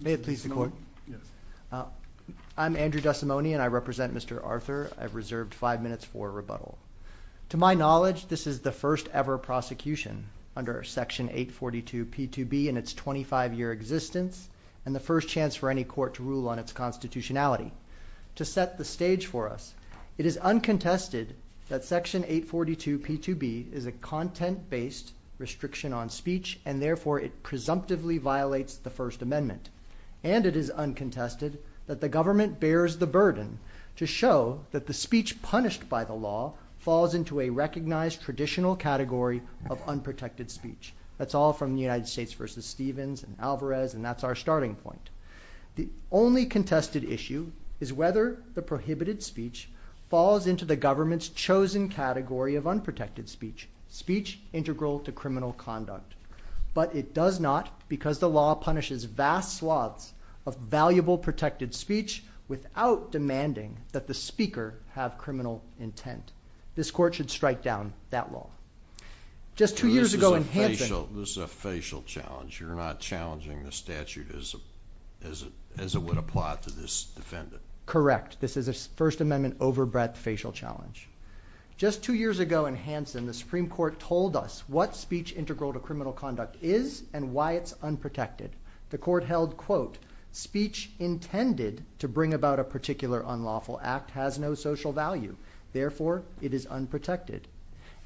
May it please the court. I'm Andrew Desimone and I represent Mr. Arthur. I've reserved five minutes for rebuttal. To my knowledge, this is the first ever prosecution under Section 842 P2B in its 25-year existence and the first chance for any court to rule on its constitutionality. To set the stage for us, it is uncontested that Section 842 P2B is a content-based restriction on speech and therefore it presumptively violates the First Amendment. And it is uncontested that the government bears the burden to show that the speech punished by the law falls into a recognized traditional category of unprotected speech. That's all from the United States versus Stevens and Alvarez and that's our starting point. The only contested issue is whether the prohibited speech falls into the government's chosen category of unprotected speech, speech integral to criminal conduct. But it does not because the law punishes vast swaths of valuable protected speech without demanding that the speaker have criminal intent. This court should strike down that law. Just two years ago in Hanson... This is a facial challenge. You're not challenging the statute as it would apply to this defendant. Correct. This is a First Amendment overbreath facial challenge. Just two years ago in Hanson, the Supreme Court told us what speech integral to criminal conduct is and why it's unprotected. The court held quote, speech intended to bring about a particular unlawful act has no social value, therefore it is unprotected.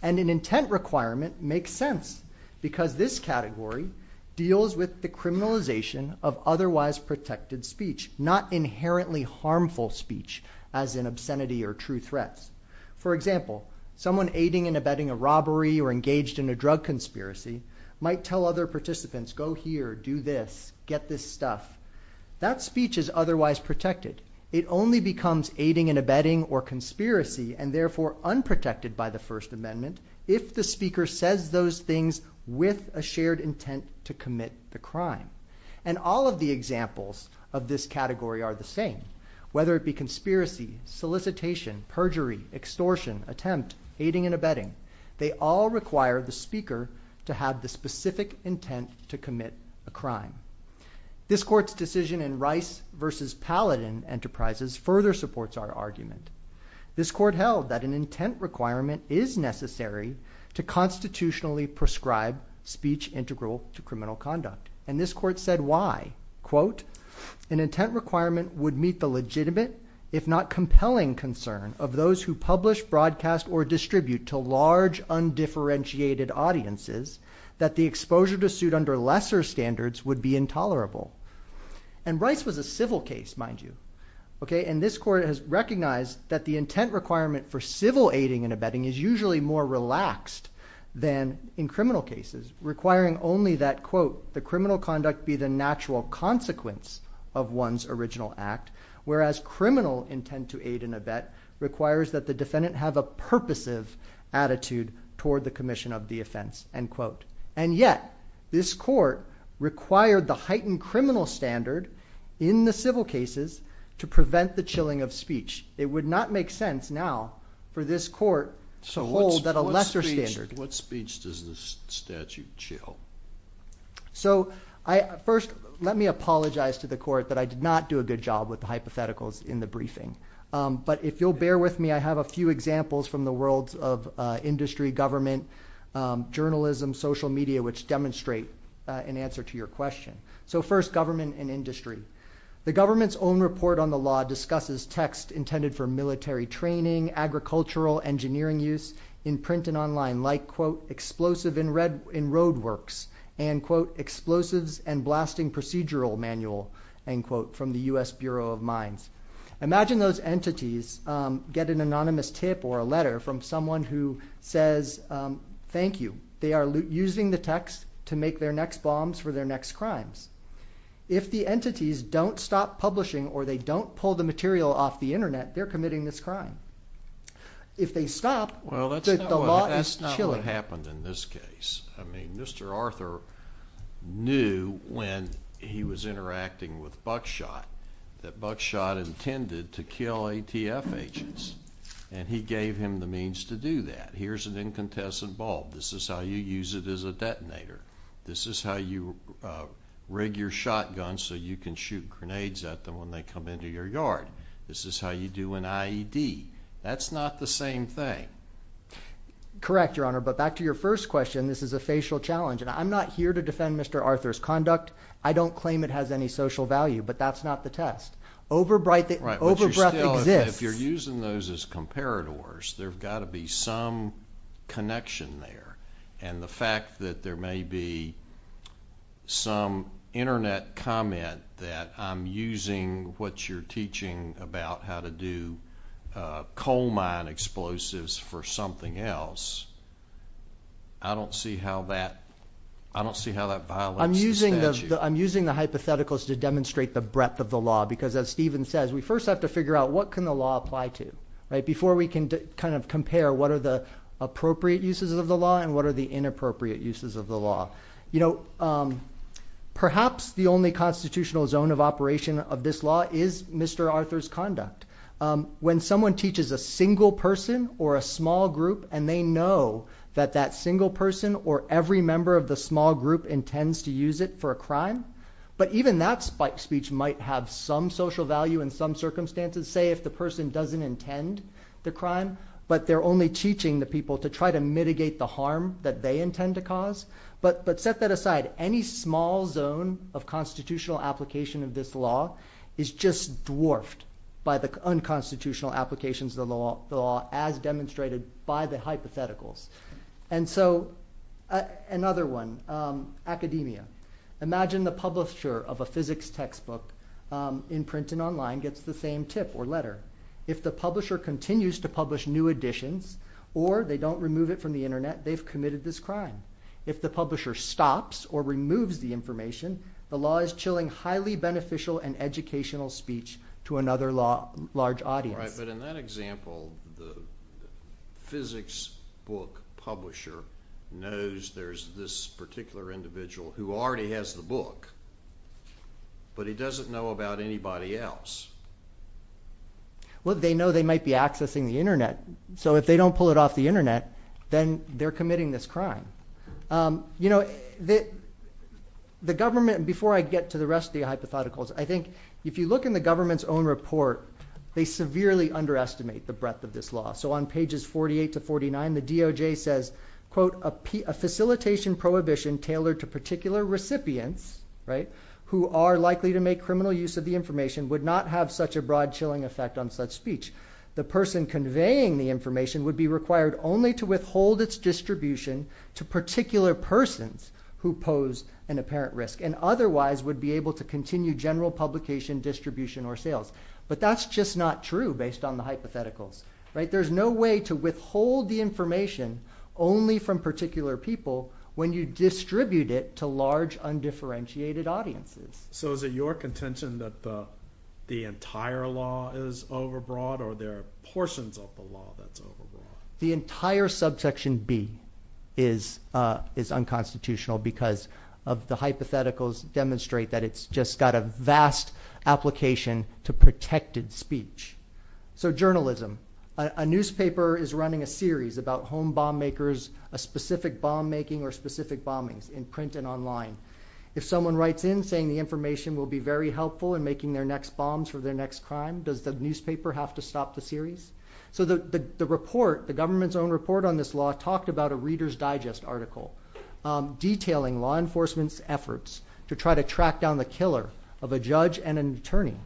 And an intent requirement makes sense because this category deals with the criminalization of otherwise protected speech, not inherently harmful speech as an obscenity or true threats. For example, someone aiding and abetting a robbery or engaged in a drug conspiracy might tell other participants go here, do this, get this stuff. That speech is otherwise protected. It only becomes aiding and abetting or conspiracy and therefore unprotected by the First Amendment if the speaker says those things with a shared intent to commit the crime. And all of the examples of this category are the same. Whether it be conspiracy, solicitation, perjury, extortion, attempt, aiding and abetting, they all require the speaker to have the specific intent to commit a crime. This court's decision in Rice versus Paladin Enterprises further supports our argument. This court held that an intent requirement is necessary to constitutionally prescribe speech integral to criminal conduct and this said why, quote, an intent requirement would meet the legitimate, if not compelling, concern of those who publish, broadcast, or distribute to large undifferentiated audiences that the exposure to suit under lesser standards would be intolerable. And Rice was a civil case, mind you. Okay, and this court has recognized that the intent requirement for civil aiding and abetting is usually more relaxed than in criminal cases, requiring only that, quote, the criminal conduct be the natural consequence of one's original act, whereas criminal intent to aid and abet requires that the defendant have a purposive attitude toward the commission of the offense, end quote. And yet this court required the heightened criminal standard in the civil cases to prevent the chilling of speech. It would not make sense now for this court to hold that a lesser standard. What speech does this statute chill? So, first, let me apologize to the court that I did not do a good job with the hypotheticals in the briefing, but if you'll bear with me, I have a few examples from the world of industry, government, journalism, social media, which demonstrate an answer to your question. So first, government and industry. The government's own report on the law discusses text intended for military training, agricultural, engineering use in print and online, like, quote, explosive in road works, and, quote, explosives and blasting procedural manual, end quote, from the US Bureau of Mines. Imagine those entities get an anonymous tip or a letter from someone who says, thank you, they are using the text to make their next bombs for their next crimes. If the entities don't stop publishing or they don't pull the material off the internet, they're committing this crime. If they stop, the law is chilling. Well, that's not what happened in this case. I mean, Mr. Arthur knew when he was interacting with Buckshot that Buckshot intended to kill ATF agents, and he gave him the means to do that. Here's an incandescent bulb. This is how you use it as a detonator. This is how you rig your shotgun so you can shoot grenades at them when they come into your yard. This is how you do an IED. That's not the same thing. Correct, Your Honor, but back to your first question, this is a facial challenge, and I'm not here to defend Mr. Arthur's conduct. I don't claim it has any social value, but that's not the test. Overbreadth exists. If you're using those as comparators, there's got to be some connection there, and the fact that there may be some internet comment that I'm using what you're teaching about how to do coal mine explosives for something else, I don't see how that violates the statute. I'm using the hypotheticals to demonstrate the breadth of the law, because as Stephen says, we first have to figure out what can the law apply to, right, before we can kind of the inappropriate uses of the law. Perhaps the only constitutional zone of operation of this law is Mr. Arthur's conduct. When someone teaches a single person or a small group, and they know that that single person or every member of the small group intends to use it for a crime, but even that spike speech might have some social value in some circumstances, say if the person doesn't intend the crime, but they're only teaching the people to try to harm that they intend to cause. But set that aside, any small zone of constitutional application of this law is just dwarfed by the unconstitutional applications of the law as demonstrated by the hypotheticals. And so another one, academia. Imagine the publisher of a physics textbook in print and online gets the same tip or letter. If the publisher continues to publish new editions, or they don't remove it from the internet, they've committed this crime. If the publisher stops or removes the information, the law is chilling highly beneficial and educational speech to another large audience. Right, but in that example, the physics book publisher knows there's this particular individual who already has the book, but he doesn't know about anybody else. Well, they know they might be accessing the internet, so if they don't pull it off the internet, then they're committing this crime. You know, the government, before I get to the rest of the hypotheticals, I think if you look in the government's own report, they severely underestimate the breadth of this law. So on pages 48 to 49, the DOJ says, quote, a facilitation prohibition tailored to particular recipients, right, who are likely to make criminal use of the information would not have such a broad chilling effect on such speech. The person conveying the information would be required only to withhold its distribution to particular persons who pose an apparent risk, and otherwise would be able to continue general publication, distribution, or sales. But that's just not true based on the hypotheticals, right. There's no way to withhold the information only from particular people when you distribute it to large undifferentiated audiences. So is it your contention that the entire law is overbroad, or there are portions of the law that's overbroad? The entire subsection B is is unconstitutional because of the hypotheticals demonstrate that it's just got a vast application to protected speech. So journalism. A newspaper is running a series about home bomb makers, a specific bomb making or specific bombings in print and online. If someone writes in saying the information will be very helpful in making their next bombs for their next crime, does the newspaper have to stop the series? So the report, the government's own report on this law, talked about a Reader's Digest article detailing law enforcement's efforts to try to track down the killer of a judge and an attorney.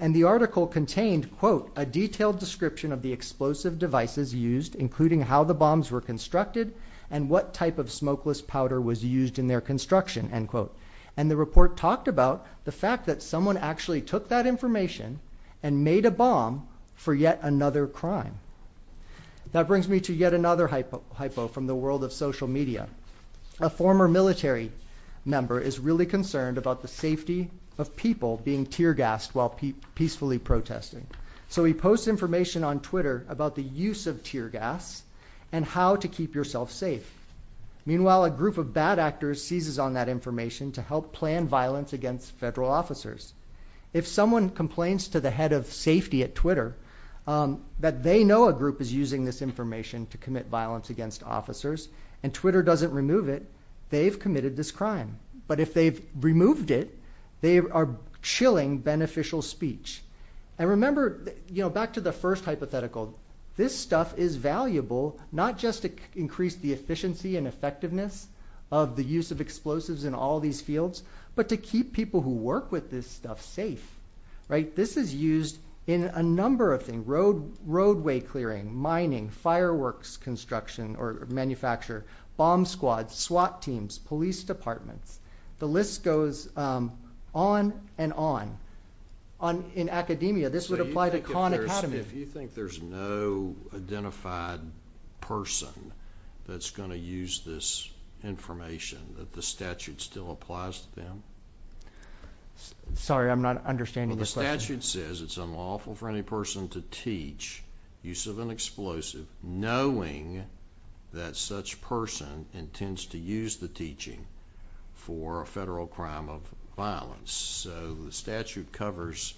And the article contained, quote, a detailed description of the explosive devices used, including how the bombs were constructed and what type of smokeless powder was used in their construction, end quote. And the talked about the fact that someone actually took that information and made a bomb for yet another crime. That brings me to yet another hypo hypo from the world of social media. A former military member is really concerned about the safety of people being tear gassed while peacefully protesting. So we post information on Twitter about the use of tear gas and how to keep yourself safe. Meanwhile, a group of bad actors seizes on that information to help plan violence against federal officers. If someone complains to the head of safety at Twitter, um, that they know a group is using this information to commit violence against officers and Twitter doesn't remove it, they've committed this crime. But if they've removed it, they are chilling beneficial speech. And remember, you know, back to the first hypothetical, this stuff is valuable not just to increase the efficiency and effectiveness of the use of explosives in all these fields, but to keep people who work with this stuff safe, right? This is used in a number of things. Road, roadway, clearing, mining, fireworks, construction or manufacture, bomb squads, SWAT teams, police departments. The list goes on and on. On in academia, this would apply to an academy. If you think there's no identified person that's going to use this information that the statute still applies to them. Sorry, I'm not understanding. The statute says it's unlawful for any person to teach use of an explosive knowing that such person intends to use the teaching for a federal crime of violence. So the statute covers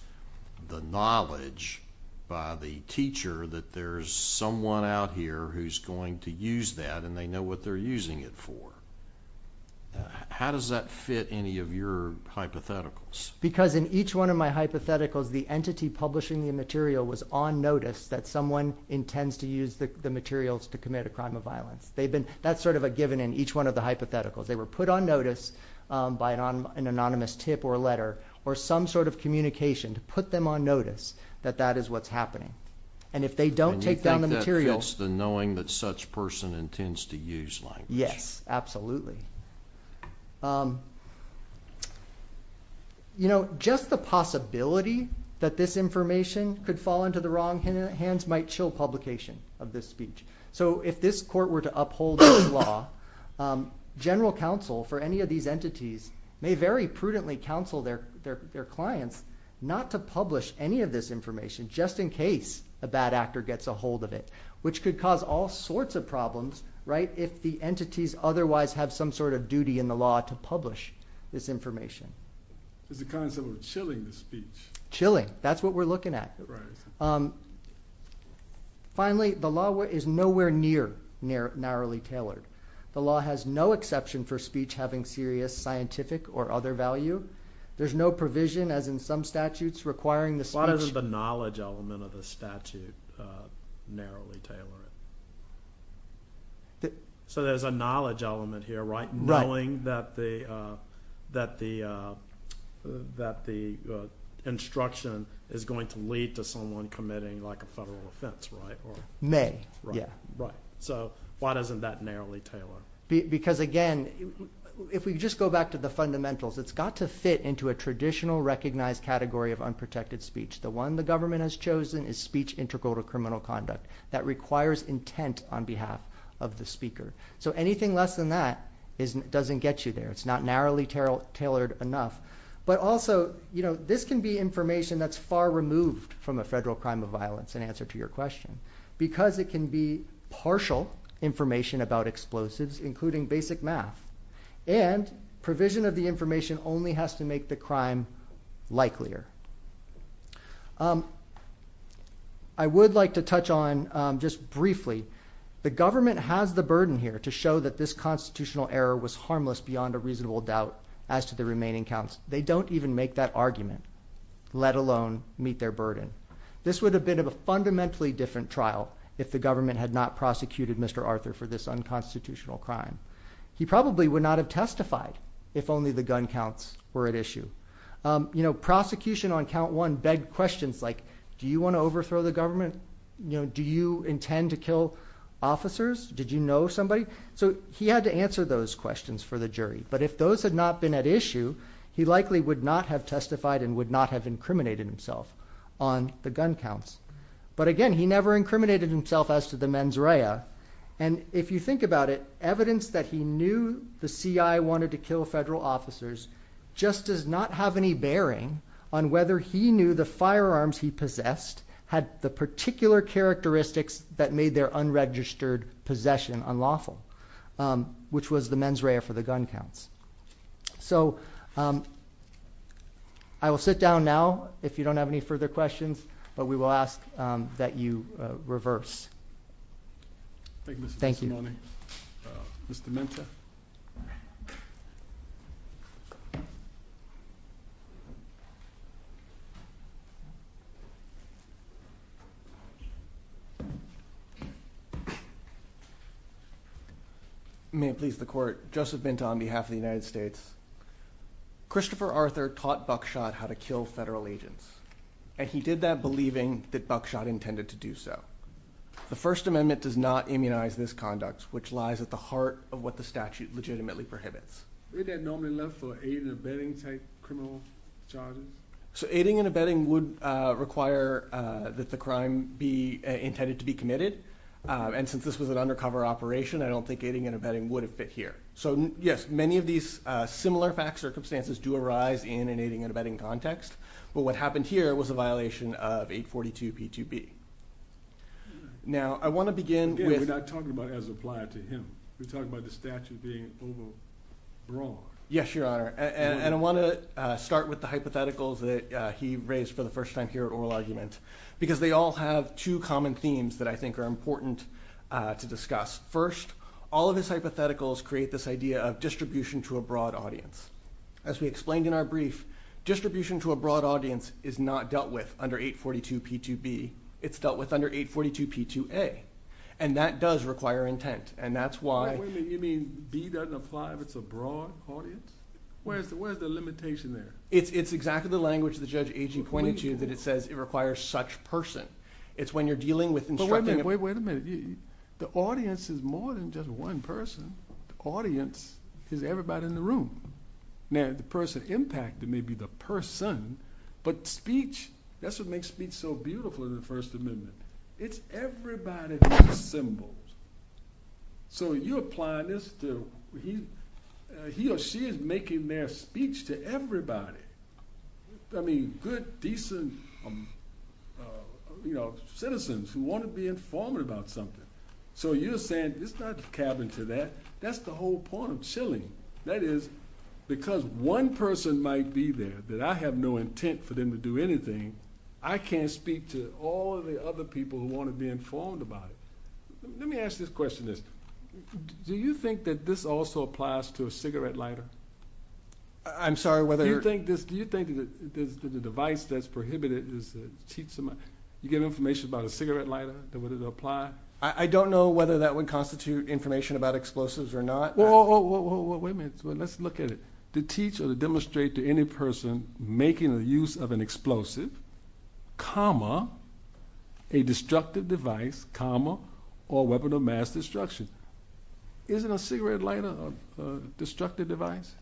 the mileage by the teacher that there's someone out here who's going to use that and they know what they're using it for. How does that fit any of your hypotheticals? Because in each one of my hypotheticals, the entity publishing the material was on notice that someone intends to use the materials to commit a crime of violence. They've been... That's sort of a given in each one of the hypotheticals. They were put on notice by an anonymous tip or a letter or some sort of communication to put them on notice that that is what's happening. And if they don't take down the material... And you think that fits the knowing that such person intends to use language? Yes, absolutely. Just the possibility that this information could fall into the wrong hands might chill publication of this speech. So if this court were to uphold this law, general counsel for any of these entities may very prudently counsel their clients not to publish any of this information just in case a bad actor gets a hold of it, which could cause all sorts of problems if the entities otherwise have some sort of duty in the law to publish this information. Is the counsel chilling the speech? Chilling, that's what we're looking at. Right. Finally, the law is nowhere near narrowly tailored. The law has no exception for speech having serious scientific or other value. There's no provision as in some statutes requiring the speech... Why doesn't the knowledge element of the statute narrowly tailor it? So there's a knowledge element here, right? Knowing that the instruction is going to lead to someone committing like a federal offense, right? May, yeah. Right. So why doesn't that narrowly tailor? Because again, if we just go back to the fundamentals, it's got to fit into a traditional recognized category of unprotected speech. The one the government has chosen is speech integral to criminal conduct that requires intent on behalf of the speaker. So anything less than that doesn't get you there. It's not narrowly tailored enough. But also, this can be information that's far removed from a federal crime of violence in answer to your question, because it can be partial information about explosives, including basic math. And provision of the information only has to make the crime likelier. I would like to touch on just briefly, the government has the burden here to show that this constitutional error was harmless beyond a reasonable doubt as to the remaining counts. They don't even make that argument, let alone meet their burden. This would have been a fundamentally different trial if the government had not prosecuted Mr. Arthur for this unconstitutional crime. He probably would not have testified if only the gun counts were at issue. Prosecution on count one begged questions like, do you wanna overthrow the government? Do you intend to kill officers? Did you know somebody? So he had to answer those questions for the jury. But if those had not been at issue, he likely would not have testified and would not have incriminated himself on the gun counts. But again, he never incriminated himself as to the mens rea. And if you think about it, evidence that he knew the CI wanted to kill federal officers just does not have any bearing on whether he knew the firearms he possessed had the particular characteristics that made their unregistered possession unlawful, which was the mens rea for the gun counts. So I will sit down now, if you don't have any further questions, but we will ask that you reverse. Thank you. Thank you. Mr. Menta. May it please the court. Joseph Binta on behalf of the United States. Christopher Arthur taught Buckshot how to kill federal agents, and he did that believing that Buckshot intended to do so. The First Amendment does not immunize this conduct, which lies at the heart of what the statute legitimately prohibits. Is that normally left for aiding and abetting type criminal charges? So aiding and abetting would require that the crime be intended to be committed. And since this was an undercover operation, I don't think aiding and abetting would have fit here. So yes, many of these similar facts or circumstances do arise in aiding and abetting context. But what happened here was a violation of 842 P2B. Now, I wanna begin with... Again, we're not talking about it as applied to him. We're talking about the statute being over brought. Yes, Your Honor. And I wanna start with the hypotheticals that he raised for the first time here at Oral Argument, because they all have two common themes that I think are important to discuss. First, all of his hypotheticals create this idea of distribution to a broad audience. As we explained in our brief, distribution to a broad audience is not dealt with under 842 P2B, it's dealt with under 842 P2A. And that does require intent, and that's why... Wait a minute, you mean B doesn't apply if it's a broad audience? Where's the limitation there? It's exactly the language that Judge Agee pointed to, that it says it requires such person. It's when you're dealing with instructing... But wait a minute, wait a minute. The audience is more than just one person. The audience is everybody in the room. Now, the person impacted may be the person, but speech, that's what makes speech so beautiful in the First Amendment. It's everybody that assembles. So you're applying this to... He or she is making their speech to everybody. Good, decent citizens who wanna be informed about something. So you're saying it's not cabin to that? That's the whole point of chilling. That is, because one person might be there, that I have no intent for them to do anything, I can't speak to all of the other people who wanna be informed about it. Let me ask this question. Do you think that this also applies to a cigarette lighter? I'm sorry, whether... Do you think this... Do you think that the device that's prohibited is a cheap... You get information about a cigarette lighter, that would it apply? I don't know whether that would constitute information about explosives or not. Whoa, whoa, whoa, whoa, wait a minute. Let's look at it. To teach or to demonstrate to any person making the use of an explosive, comma, a destructive device, comma, or weapon of mass destruction. Isn't a cigarette lighter a destructive device?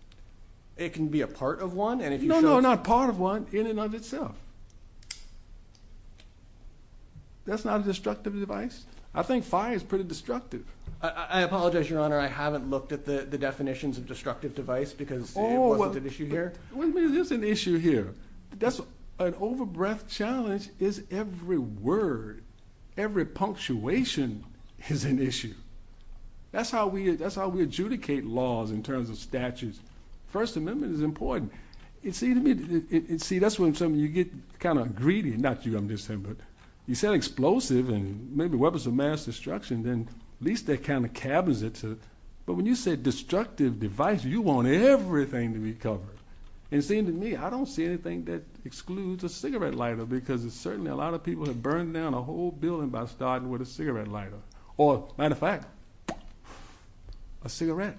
It can be a part of one, and if you show... No, no, not a part of one, in and of itself. That's not a destructive device? I think fire is pretty destructive. I apologize, Your Honor, I haven't looked at the definitions of destructive device because it wasn't an issue here. Oh, wait a minute, there's an issue here. An over breadth challenge is every word, every punctuation is an issue. That's how we adjudicate laws in terms of statutes. First Amendment is kinda greedy, not you, I'm just saying, but you said explosive and maybe weapons of mass destruction, then at least that kind of cabins it to... But when you said destructive device, you want everything to be covered. It seems to me, I don't see anything that excludes a cigarette lighter because it's certainly a lot of people have burned down a whole building by starting with a cigarette lighter, or matter of fact, a cigarette. Cigarette.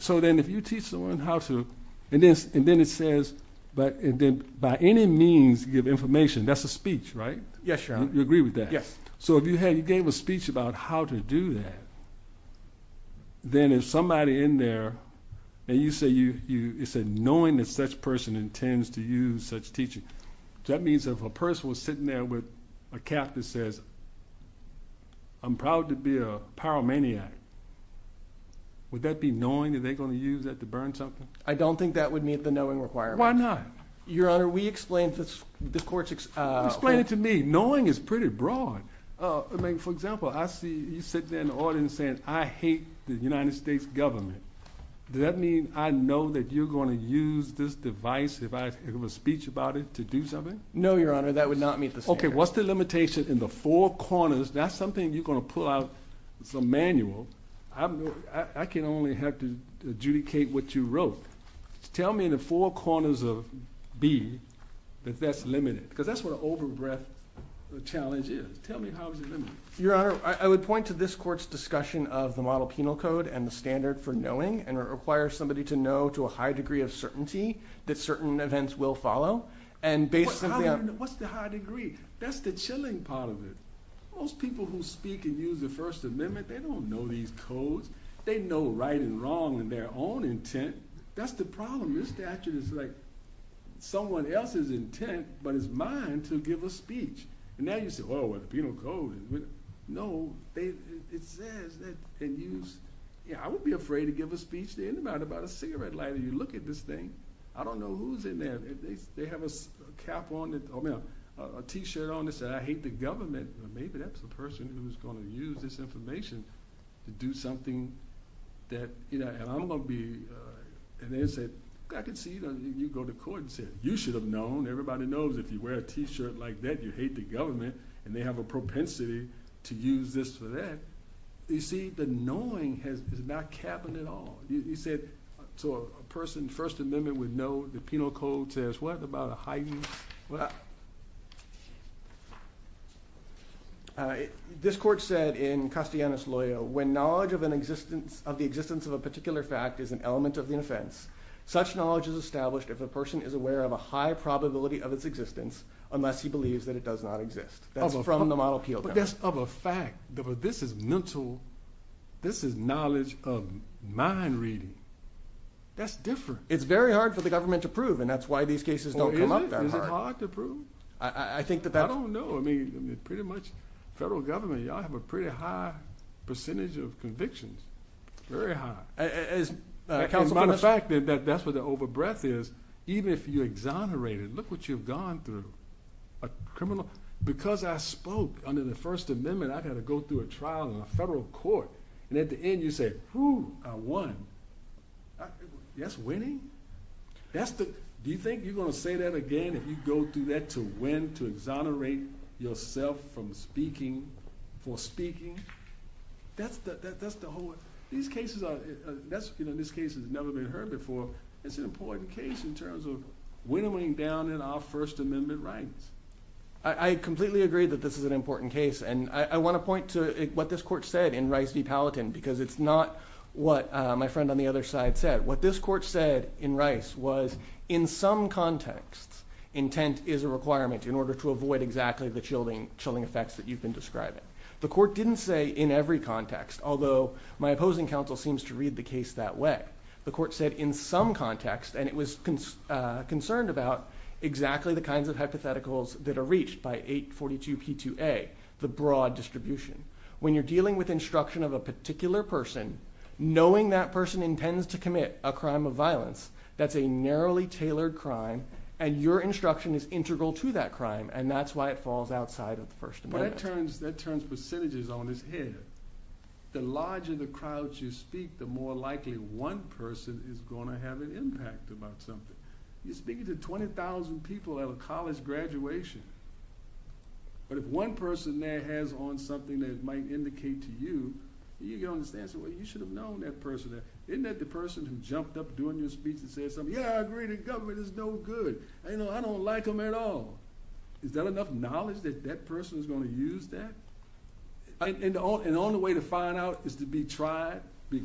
So then if you teach someone how to... And then it says, by any means, give information, that's a speech, right? Yes, Your Honor. You agree with that? Yes. So if you gave a speech about how to do that, then if somebody in there, and you say, knowing that such person intends to use such teaching, that means if a person was sitting there with a cap that says, I'm proud to be a pyromaniac, would that be knowing that they're gonna use that to burn something? I don't think that would meet the knowing requirement. Why not? Your Honor, we explained to the courts... Explain it to me, knowing is pretty broad. For example, I see you sitting there in the audience saying, I hate the United States government. Does that mean I know that you're gonna use this device if I give a speech about it to do something? No, Your Honor, that would not meet the standard. Okay, what's the limitation in the four corners? That's something you're gonna pull out as a manual. I can only have to adjudicate what you wrote. Tell me in the four corners of B, that that's limited, because that's what an over breadth challenge is. Tell me how is it limited? Your Honor, I would point to this court's discussion of the model penal code and the standard for knowing, and it requires somebody to know to a high degree of certainty that certain events will follow, and basically... What's the high degree? That's the chilling part of it. Most people who speak and use the First Amendment, they don't know these codes. They know right and wrong in their own intent. That's the problem. This statute is like someone else's intent, but it's mine to give a speech. And now you say, well, the penal code... No, it says that... And you... Yeah, I wouldn't be afraid to give a speech to anybody about a cigarette lighter. You look at this thing, I don't know who's in there. They have a cap on... A t shirt on that said, I hate the government. Maybe that's the person who's gonna use this information to do something that... And I'm gonna be... And they said, I can see you go to court and said, you should have known. Everybody knows if you wear a t shirt like that, you hate the government, and they have a propensity to use this for that. You see, the knowing is not capping at all. You said, to a person, First Amendment would know the penal code says what about a high use? This court said in Castellanos Loya, when knowledge of an existence... Of the existence of a particular fact is an element of the offense, such knowledge is established if a person is aware of a high probability of its existence, unless he believes that it does not exist. That's from the model appeal. But that's of a fact, but this is mental, this is knowledge of mind reading. That's different. It's very hard for the government to prove, and that's why these cases don't come up that hard. Or is it? Is it hard to prove? I think that that's... I don't know. I mean, pretty much, federal government, y'all have a pretty high percentage of convictions, very high. As counsel... As a matter of fact, that's where the over breath is. Even if you exonerate it, look what you've gone through. A criminal... Because I spoke under the First Amendment, I've had to go through a trial in a federal court, and at the end you say, who I won. That's winning? Do you think you're gonna say that again if you go through that to win, to exonerate yourself from speaking, for speaking? That's the whole... These cases are... This case has never been heard before. It's an important case in terms of winning down in our First Amendment rights. I completely agree that this is an important case, and I wanna point to what this court said in Rice v. Palatin, because it's not what my friend on the other side said. What this court said in Rice was, in some contexts, intent is a requirement in order to avoid exactly the chilling effects that you've been describing. The court didn't say in every context, although my opposing counsel seems to read the case that way. The court said in some context, and it was concerned about, exactly the kinds of hypotheticals that are reached by 842 P2A, the broad distribution. When you're dealing with instruction of a particular person, knowing that person intends to commit a crime of violence, that's a narrowly tailored crime, and your instruction is integral to that crime, and that's why it falls outside of the First Amendment. That turns percentages on its head. The larger the crowds you speak, the more likely one person is gonna have an impact about something. You're speaking to 20,000 people at a college graduation, but if one person there has on something that it might indicate to you, you get on the stand and say, Well, you should have known that person there. Isn't that the person who jumped up during your speech and said something? Yeah, I agree, the government is no good. I don't like them at all. Is that enough knowledge that that person is gonna use that? And the only way to find out is to be tried, to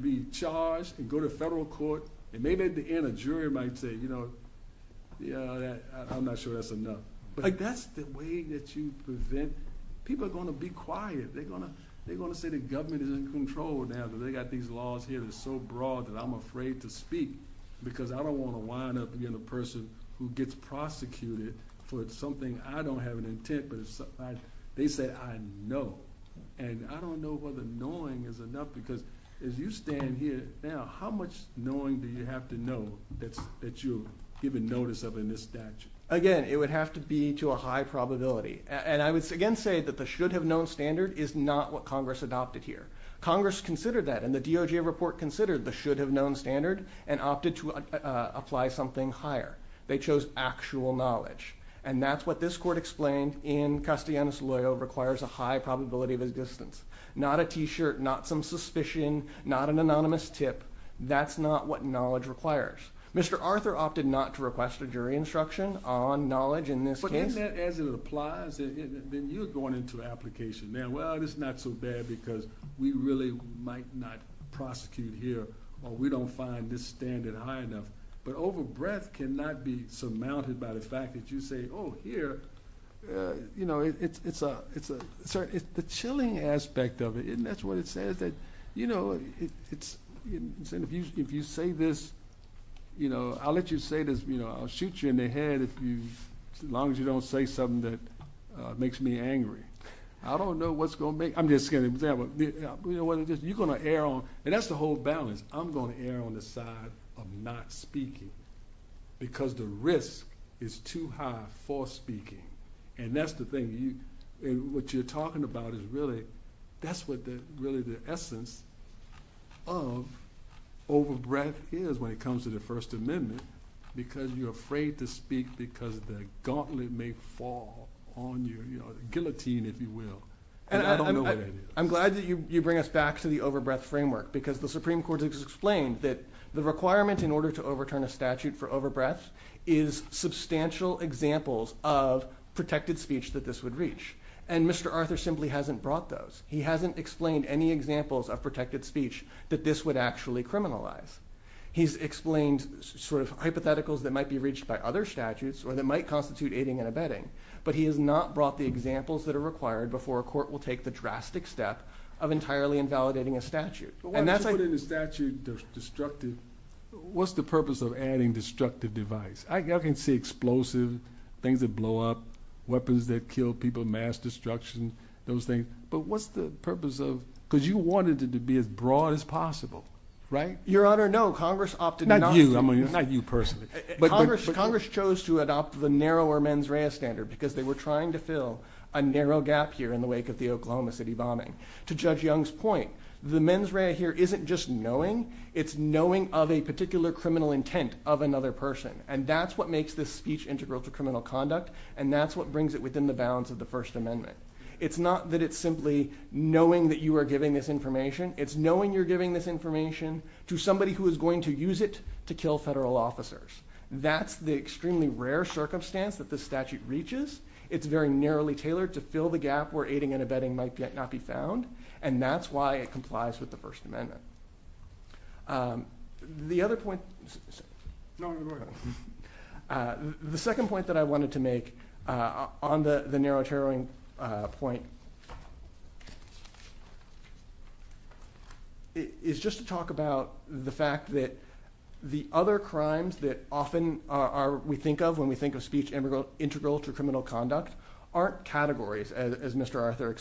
be charged, and go to federal court, and maybe at the end, a jury might say, I'm not sure that's enough. That's the way that you prevent... People are gonna be quiet. They're gonna say the government is in control now, that they got these laws here that are so broad that I'm afraid to speak, because I don't wanna wind up being a person who gets prosecuted for something I don't have an intent, but they said I know. And I don't know whether knowing is enough, because as you stand here now, how much knowing do you have to know that you're given notice of in this statute? Again, it would have to be to a high probability. And I would again say that the should have known standard is not what Congress adopted here. Congress considered that, and the DOJ report considered the should have known standard and opted to apply something higher. They chose actual knowledge, and that's what this court explained in Custodianus Loyo requires a high probability of his distance. Not a T shirt, not some suspicion, not an anonymous tip. That's not what knowledge requires. Mr. Arthur opted not to request a jury instruction on knowledge in this case. But isn't that as it applies, then you're going into application. Man, well, it's not so bad because we really might not prosecute here, or we don't find this standard high enough. But over breath cannot be surmounted by the fact that you say, oh, here... The chilling aspect of it, and that's what it says that... If you say this, I'll let you say this, I'll shoot you in the head as long as you don't say something that makes me angry. I don't know what's gonna make... I'm just kidding. You're gonna err on... And that's the whole balance. I'm gonna err on the side of not speaking because the risk is too high for speaking, and that's the thing. What you're talking about is really... That's what really the essence of over breath is when it comes to the First Amendment, because you're afraid to speak because the gauntlet may fall on you, you know, guillotine if you will. And I don't know what that is. I'm glad that you bring us back to the over breath framework because the Supreme Court has explained that the requirement in order to overturn a statute for over breath is substantial examples of protected speech that this would reach. And Mr. Arthur simply hasn't brought those. He hasn't explained any examples of protected speech that this would actually criminalize. He's explained sort of hypotheticals that might be reached by other statutes or that might constitute aiding and abetting, but he has not brought the examples that are required before a court will take the drastic step of entirely invalidating a statute. And that's a... Why don't you put in a statute that's destructive? What's the purpose of adding destructive device? I can see explosive, things that blow up, weapons that kill people, mass destruction, those things, but what's the purpose of... Because you wanted it to be as broad as possible, right? Your honor, no, Congress opted not... Not you, I mean, not you personally. Congress chose to adopt the narrower mens rea standard because they were trying to fill a narrow gap here in the wake of the Oklahoma City bombing. To Judge Young's point, the mens rea here isn't just knowing, it's knowing of a particular criminal intent of another person, and that's what makes this speech integral to criminal conduct, and that's what brings it within the bounds of the First Amendment. It's not that it's simply knowing that you are giving this information, it's knowing you're giving this information to somebody who is going to use it to kill federal officers. That's the extremely rare circumstance that the statute reaches. It's very narrowly tailored to fill the gap where aiding and abetting might yet not be found, and that's why it complies with the First Amendment. The other point... No, go ahead. The second point that I wanted to make on the narrow taroting point is just to talk about the fact that the other crimes that often are... We think of when we think of speech integral to criminal conduct aren't categories, as Mr. Arthur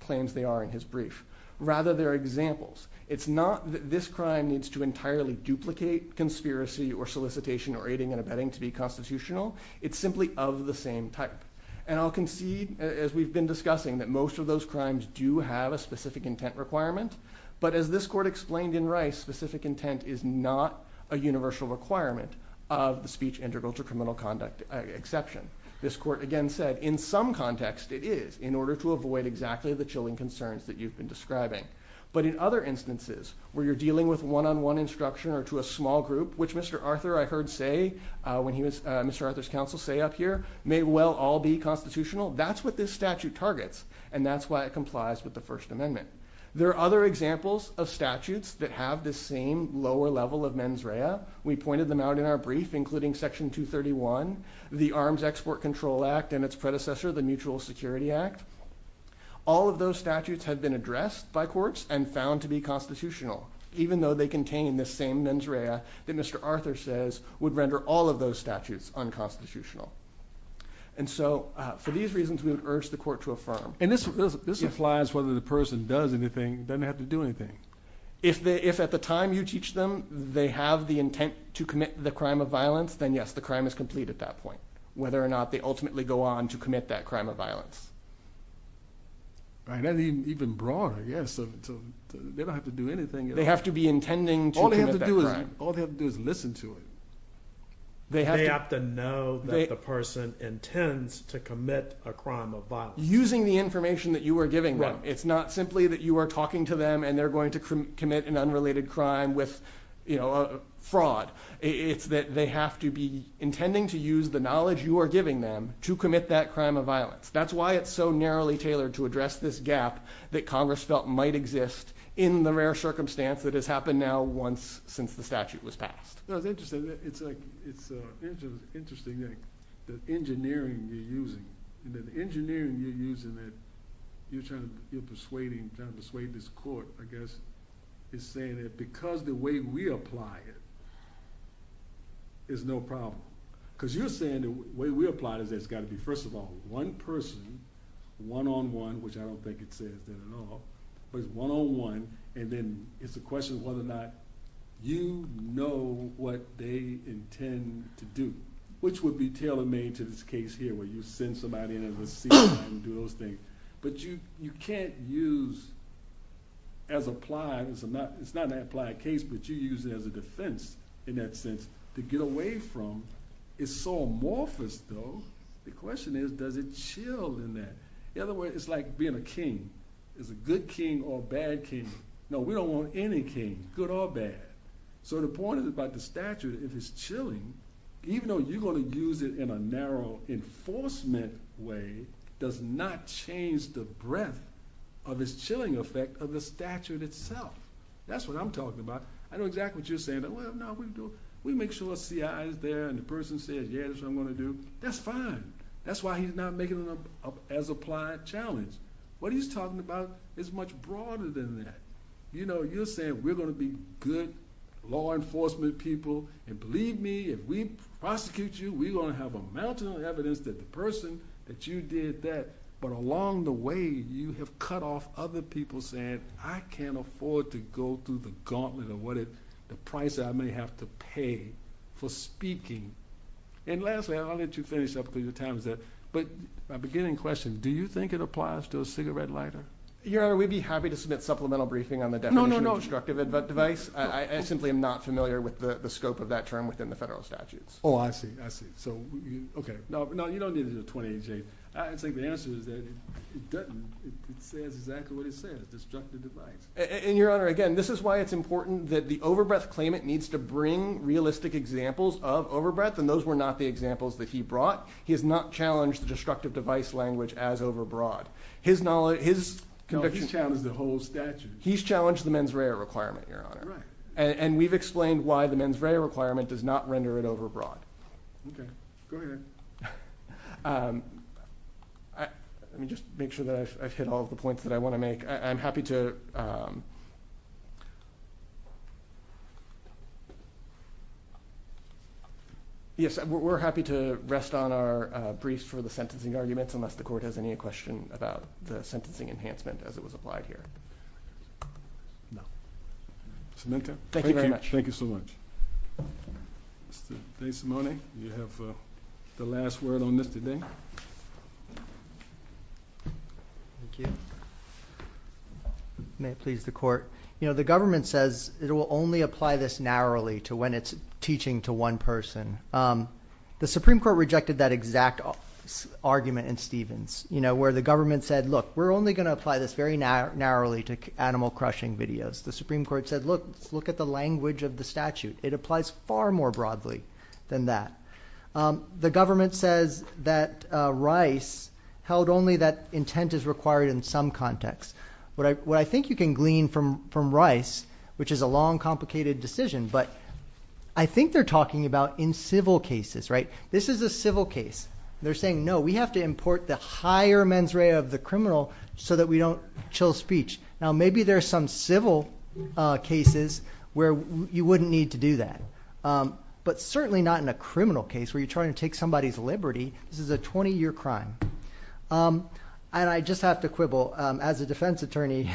claims they are in his brief. Rather, they're examples. It's not that this crime needs to entirely duplicate conspiracy or solicitation or aiding and abetting to be constitutional, it's simply of the same type. And I'll concede, as we've been discussing, that most of those crimes do have a specific intent requirement, but as this court explained in Rice, specific intent is not a universal requirement of the speech integral to criminal conduct exception. This court again said, in some context, it is, in order to avoid exactly the chilling concerns that you've been describing. But in other instances where you're dealing with one on one instruction or to a small group, which Mr. Arthur, I heard say when he was... Mr. Arthur's counsel say up here, may well all be constitutional, that's what this statute targets, and that's why it complies with the First Amendment. There are other examples of statutes that have this same lower level of mens rea. We pointed them out in our brief, including Section 231, the Arms Export Control Act, and its predecessor, the Mutual Security Act. All of those statutes have been addressed by courts and found to be constitutional, even though they contain the same mens rea that Mr. Arthur says would render all of those statutes unconstitutional. And so for these reasons, we would urge the court to affirm. And this applies whether the person does anything, doesn't have to do anything. If at the time you teach them, they have the intent to commit the crime of violence, then yes, the crime is complete at that point, whether or not they ultimately go on to commit that crime of violence. Right, and even broader, yes. They don't have to do anything. They have to be intending to commit that crime. All they have to do is listen to it. They have to know that the person intends to commit a crime of violence. Using the information that you are giving them. It's not simply that you are talking to them and they're going to commit an unrelated crime with fraud. It's that they have to be intending to use the knowledge you are giving them to commit that crime of violence. That's why it's so narrowly tailored to address this gap that Congress felt might exist in the rare circumstance that has happened now once since the statute was passed. It's interesting. It's interesting that the engineering you're using, and that the engineering you're using that you're trying to persuade this court, I guess, is saying that because the way we apply it is no problem. Because you're saying the way we apply it is that it's got to be, first of all, one person, one on one, which I don't think it says that at all, but it's one on one, and then it's a question of whether or not you know what they intend to do, which would be tailor made to this case here, where you send somebody in and receive them and do those things. But you can't use as applied... It's not an applied case, but you use it as a defense in that sense to get away from. It's so amorphous though. The question is, does it chill in that? In other words, it's like being a king. It's a good king or a bad king. No, we don't want any king, good or bad. So the point is about the statute, if it's chilling, even though you're gonna use it in a narrow enforcement way, does not change the breadth of this chilling effect of the statute itself. That's what I'm talking about. I know exactly what you're saying, that, well, no, we make sure the CIA is there and the person says, yeah, that's what I'm gonna do. That's fine. That's why he's not making it up as applied challenge. What he's talking about is much broader than that. You're saying we're gonna be good law enforcement people, and believe me, if we prosecute you, we're gonna have a mountain of evidence that the person, that you did that, but along the way, you have cut off other people saying, I can't afford to go through the gauntlet of what it... The price that I may have to pay for speaking. And lastly, I'll let you finish up, please, the time is up, but my beginning question, do you think it applies to a cigarette lighter? Your Honor, we'd be happy to submit supplemental briefing on the definition of destructive device. I simply am not familiar with the scope of that term within the federal statutes. Oh, I see, I see. So, okay. No, you don't need a 28 J. I just think the answer is that it doesn't. It says exactly what it says, destructive device. And Your Honor, again, this is why it's important that the overbreath claimant needs to bring realistic examples of overbreath, and those were not the examples that he brought. He has not challenged the destructive device language as overbroad. His knowledge... No, he's challenged the whole statute. He's challenged the mens rea requirement, Your Honor. Right. And we've explained why the mens rea requirement does not render it overbroad. Okay. Go ahead. Let me just make sure that I've hit all of the points that I wanna make. I'm happy to... Yes, we're happy to rest on our briefs for the sentencing arguments unless the court has any question about the sentencing enhancement as it was applied here. No. Mr. Minton. Thank you. Thank you very much. Thank you so much. Mr. DeSimone, you have the last word on this today. Thank you. May it please the court. The government says it will only apply this narrowly to when it's teaching to one person. The Supreme Court rejected that exact argument in Stevens, where the government said, look, we're only gonna apply this very narrowly to animal crushing videos. The Supreme Court said, look, look at the language of the statute. It applies far more broadly than that. The government says that Rice held only that intent is required in some context. What I think you can glean from Rice, which is a long complicated decision, but I think they're talking about in civil cases, right? This is a civil case. They're saying, no, we have to import the higher mens rea of the criminal so that we don't chill speech. Now, maybe there are some civil cases where you wouldn't need to do that, but certainly not in a criminal case where you're trying to take somebody's liberty. This is a 20 year crime. And I just have to quibble, as a defense attorney,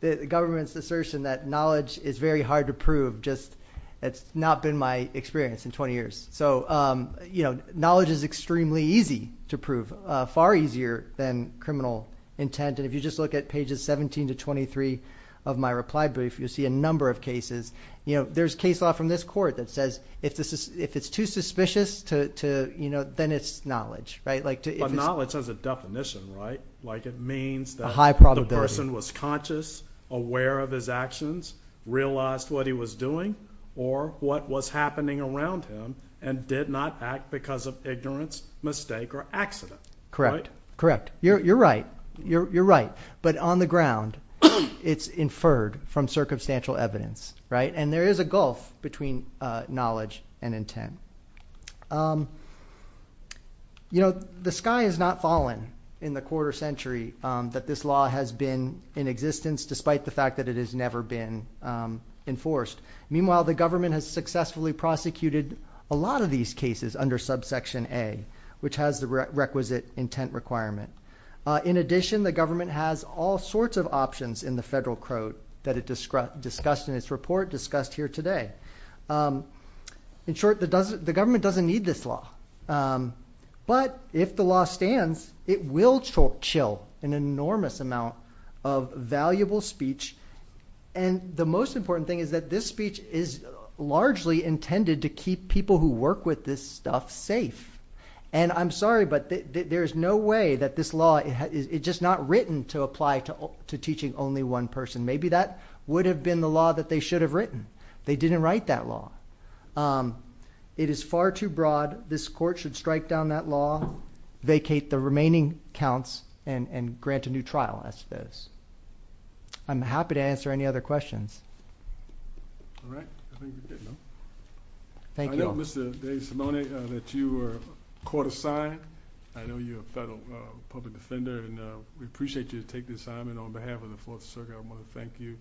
the government's assertion that knowledge is very hard to prove, just... It's not been my experience in 20 years. So knowledge is extremely easy to prove, far easier than criminal intent. And if you just look at pages 17 to 23 of my reply brief, you'll see a number of cases. There's case law from this court that says, if it's too suspicious, then it's knowledge, right? But knowledge has a definition, right? Like it means that... A high probability. The person was conscious, aware of his actions, realized what he was doing or what was happening around him, and did not act because of ignorance, mistake, or accident. Correct. Correct. You're right. You're right. But on the ground, it's inferred from circumstantial evidence, right? And there is a gulf between knowledge and intent. The sky has not fallen in the quarter century that this law has been in existence, despite the fact that it has never been enforced. Meanwhile, the government has successfully prosecuted a lot of these cases under subsection A, which has the requisite intent requirement. In addition, the government has all sorts of options in the federal code that it discussed in its report, discussed here today. In short, the government doesn't need this law. But if the law stands, it will chill an enormous amount of valuable speech. And the most important thing is that this speech is largely intended to keep people who work with this stuff safe. And I'm sorry, but there is no way that this law... It's just not written to apply to teaching only one person. Maybe that would have been the law that they should have written. They didn't write that law. It is far too broad. This court should strike down that law, vacate the remaining counts, and grant a new trial, I suppose. I'm happy to answer any other questions. All right. I think we're good now. Thank you. I know, Mr. DeSimone, that you were court assigned. I know you're a federal public defender, and we appreciate you to take this assignment on behalf of the Fourth Circuit. I want to thank you.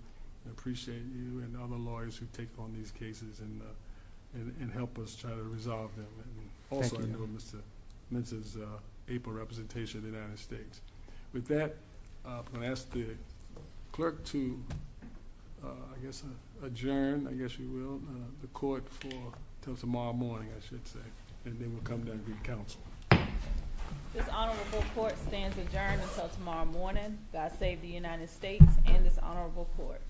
I appreciate you and all the lawyers who take on these cases and help us try to resolve them. And also, I know Mr. Mintz is an April representation of the United States. With that, I'm gonna ask the clerk to, I guess, adjourn, I guess you will, the court for till tomorrow morning, I should say. And then we'll come down and be in council. This honorable court stands adjourned until tomorrow morning. God save the United States and this honorable court.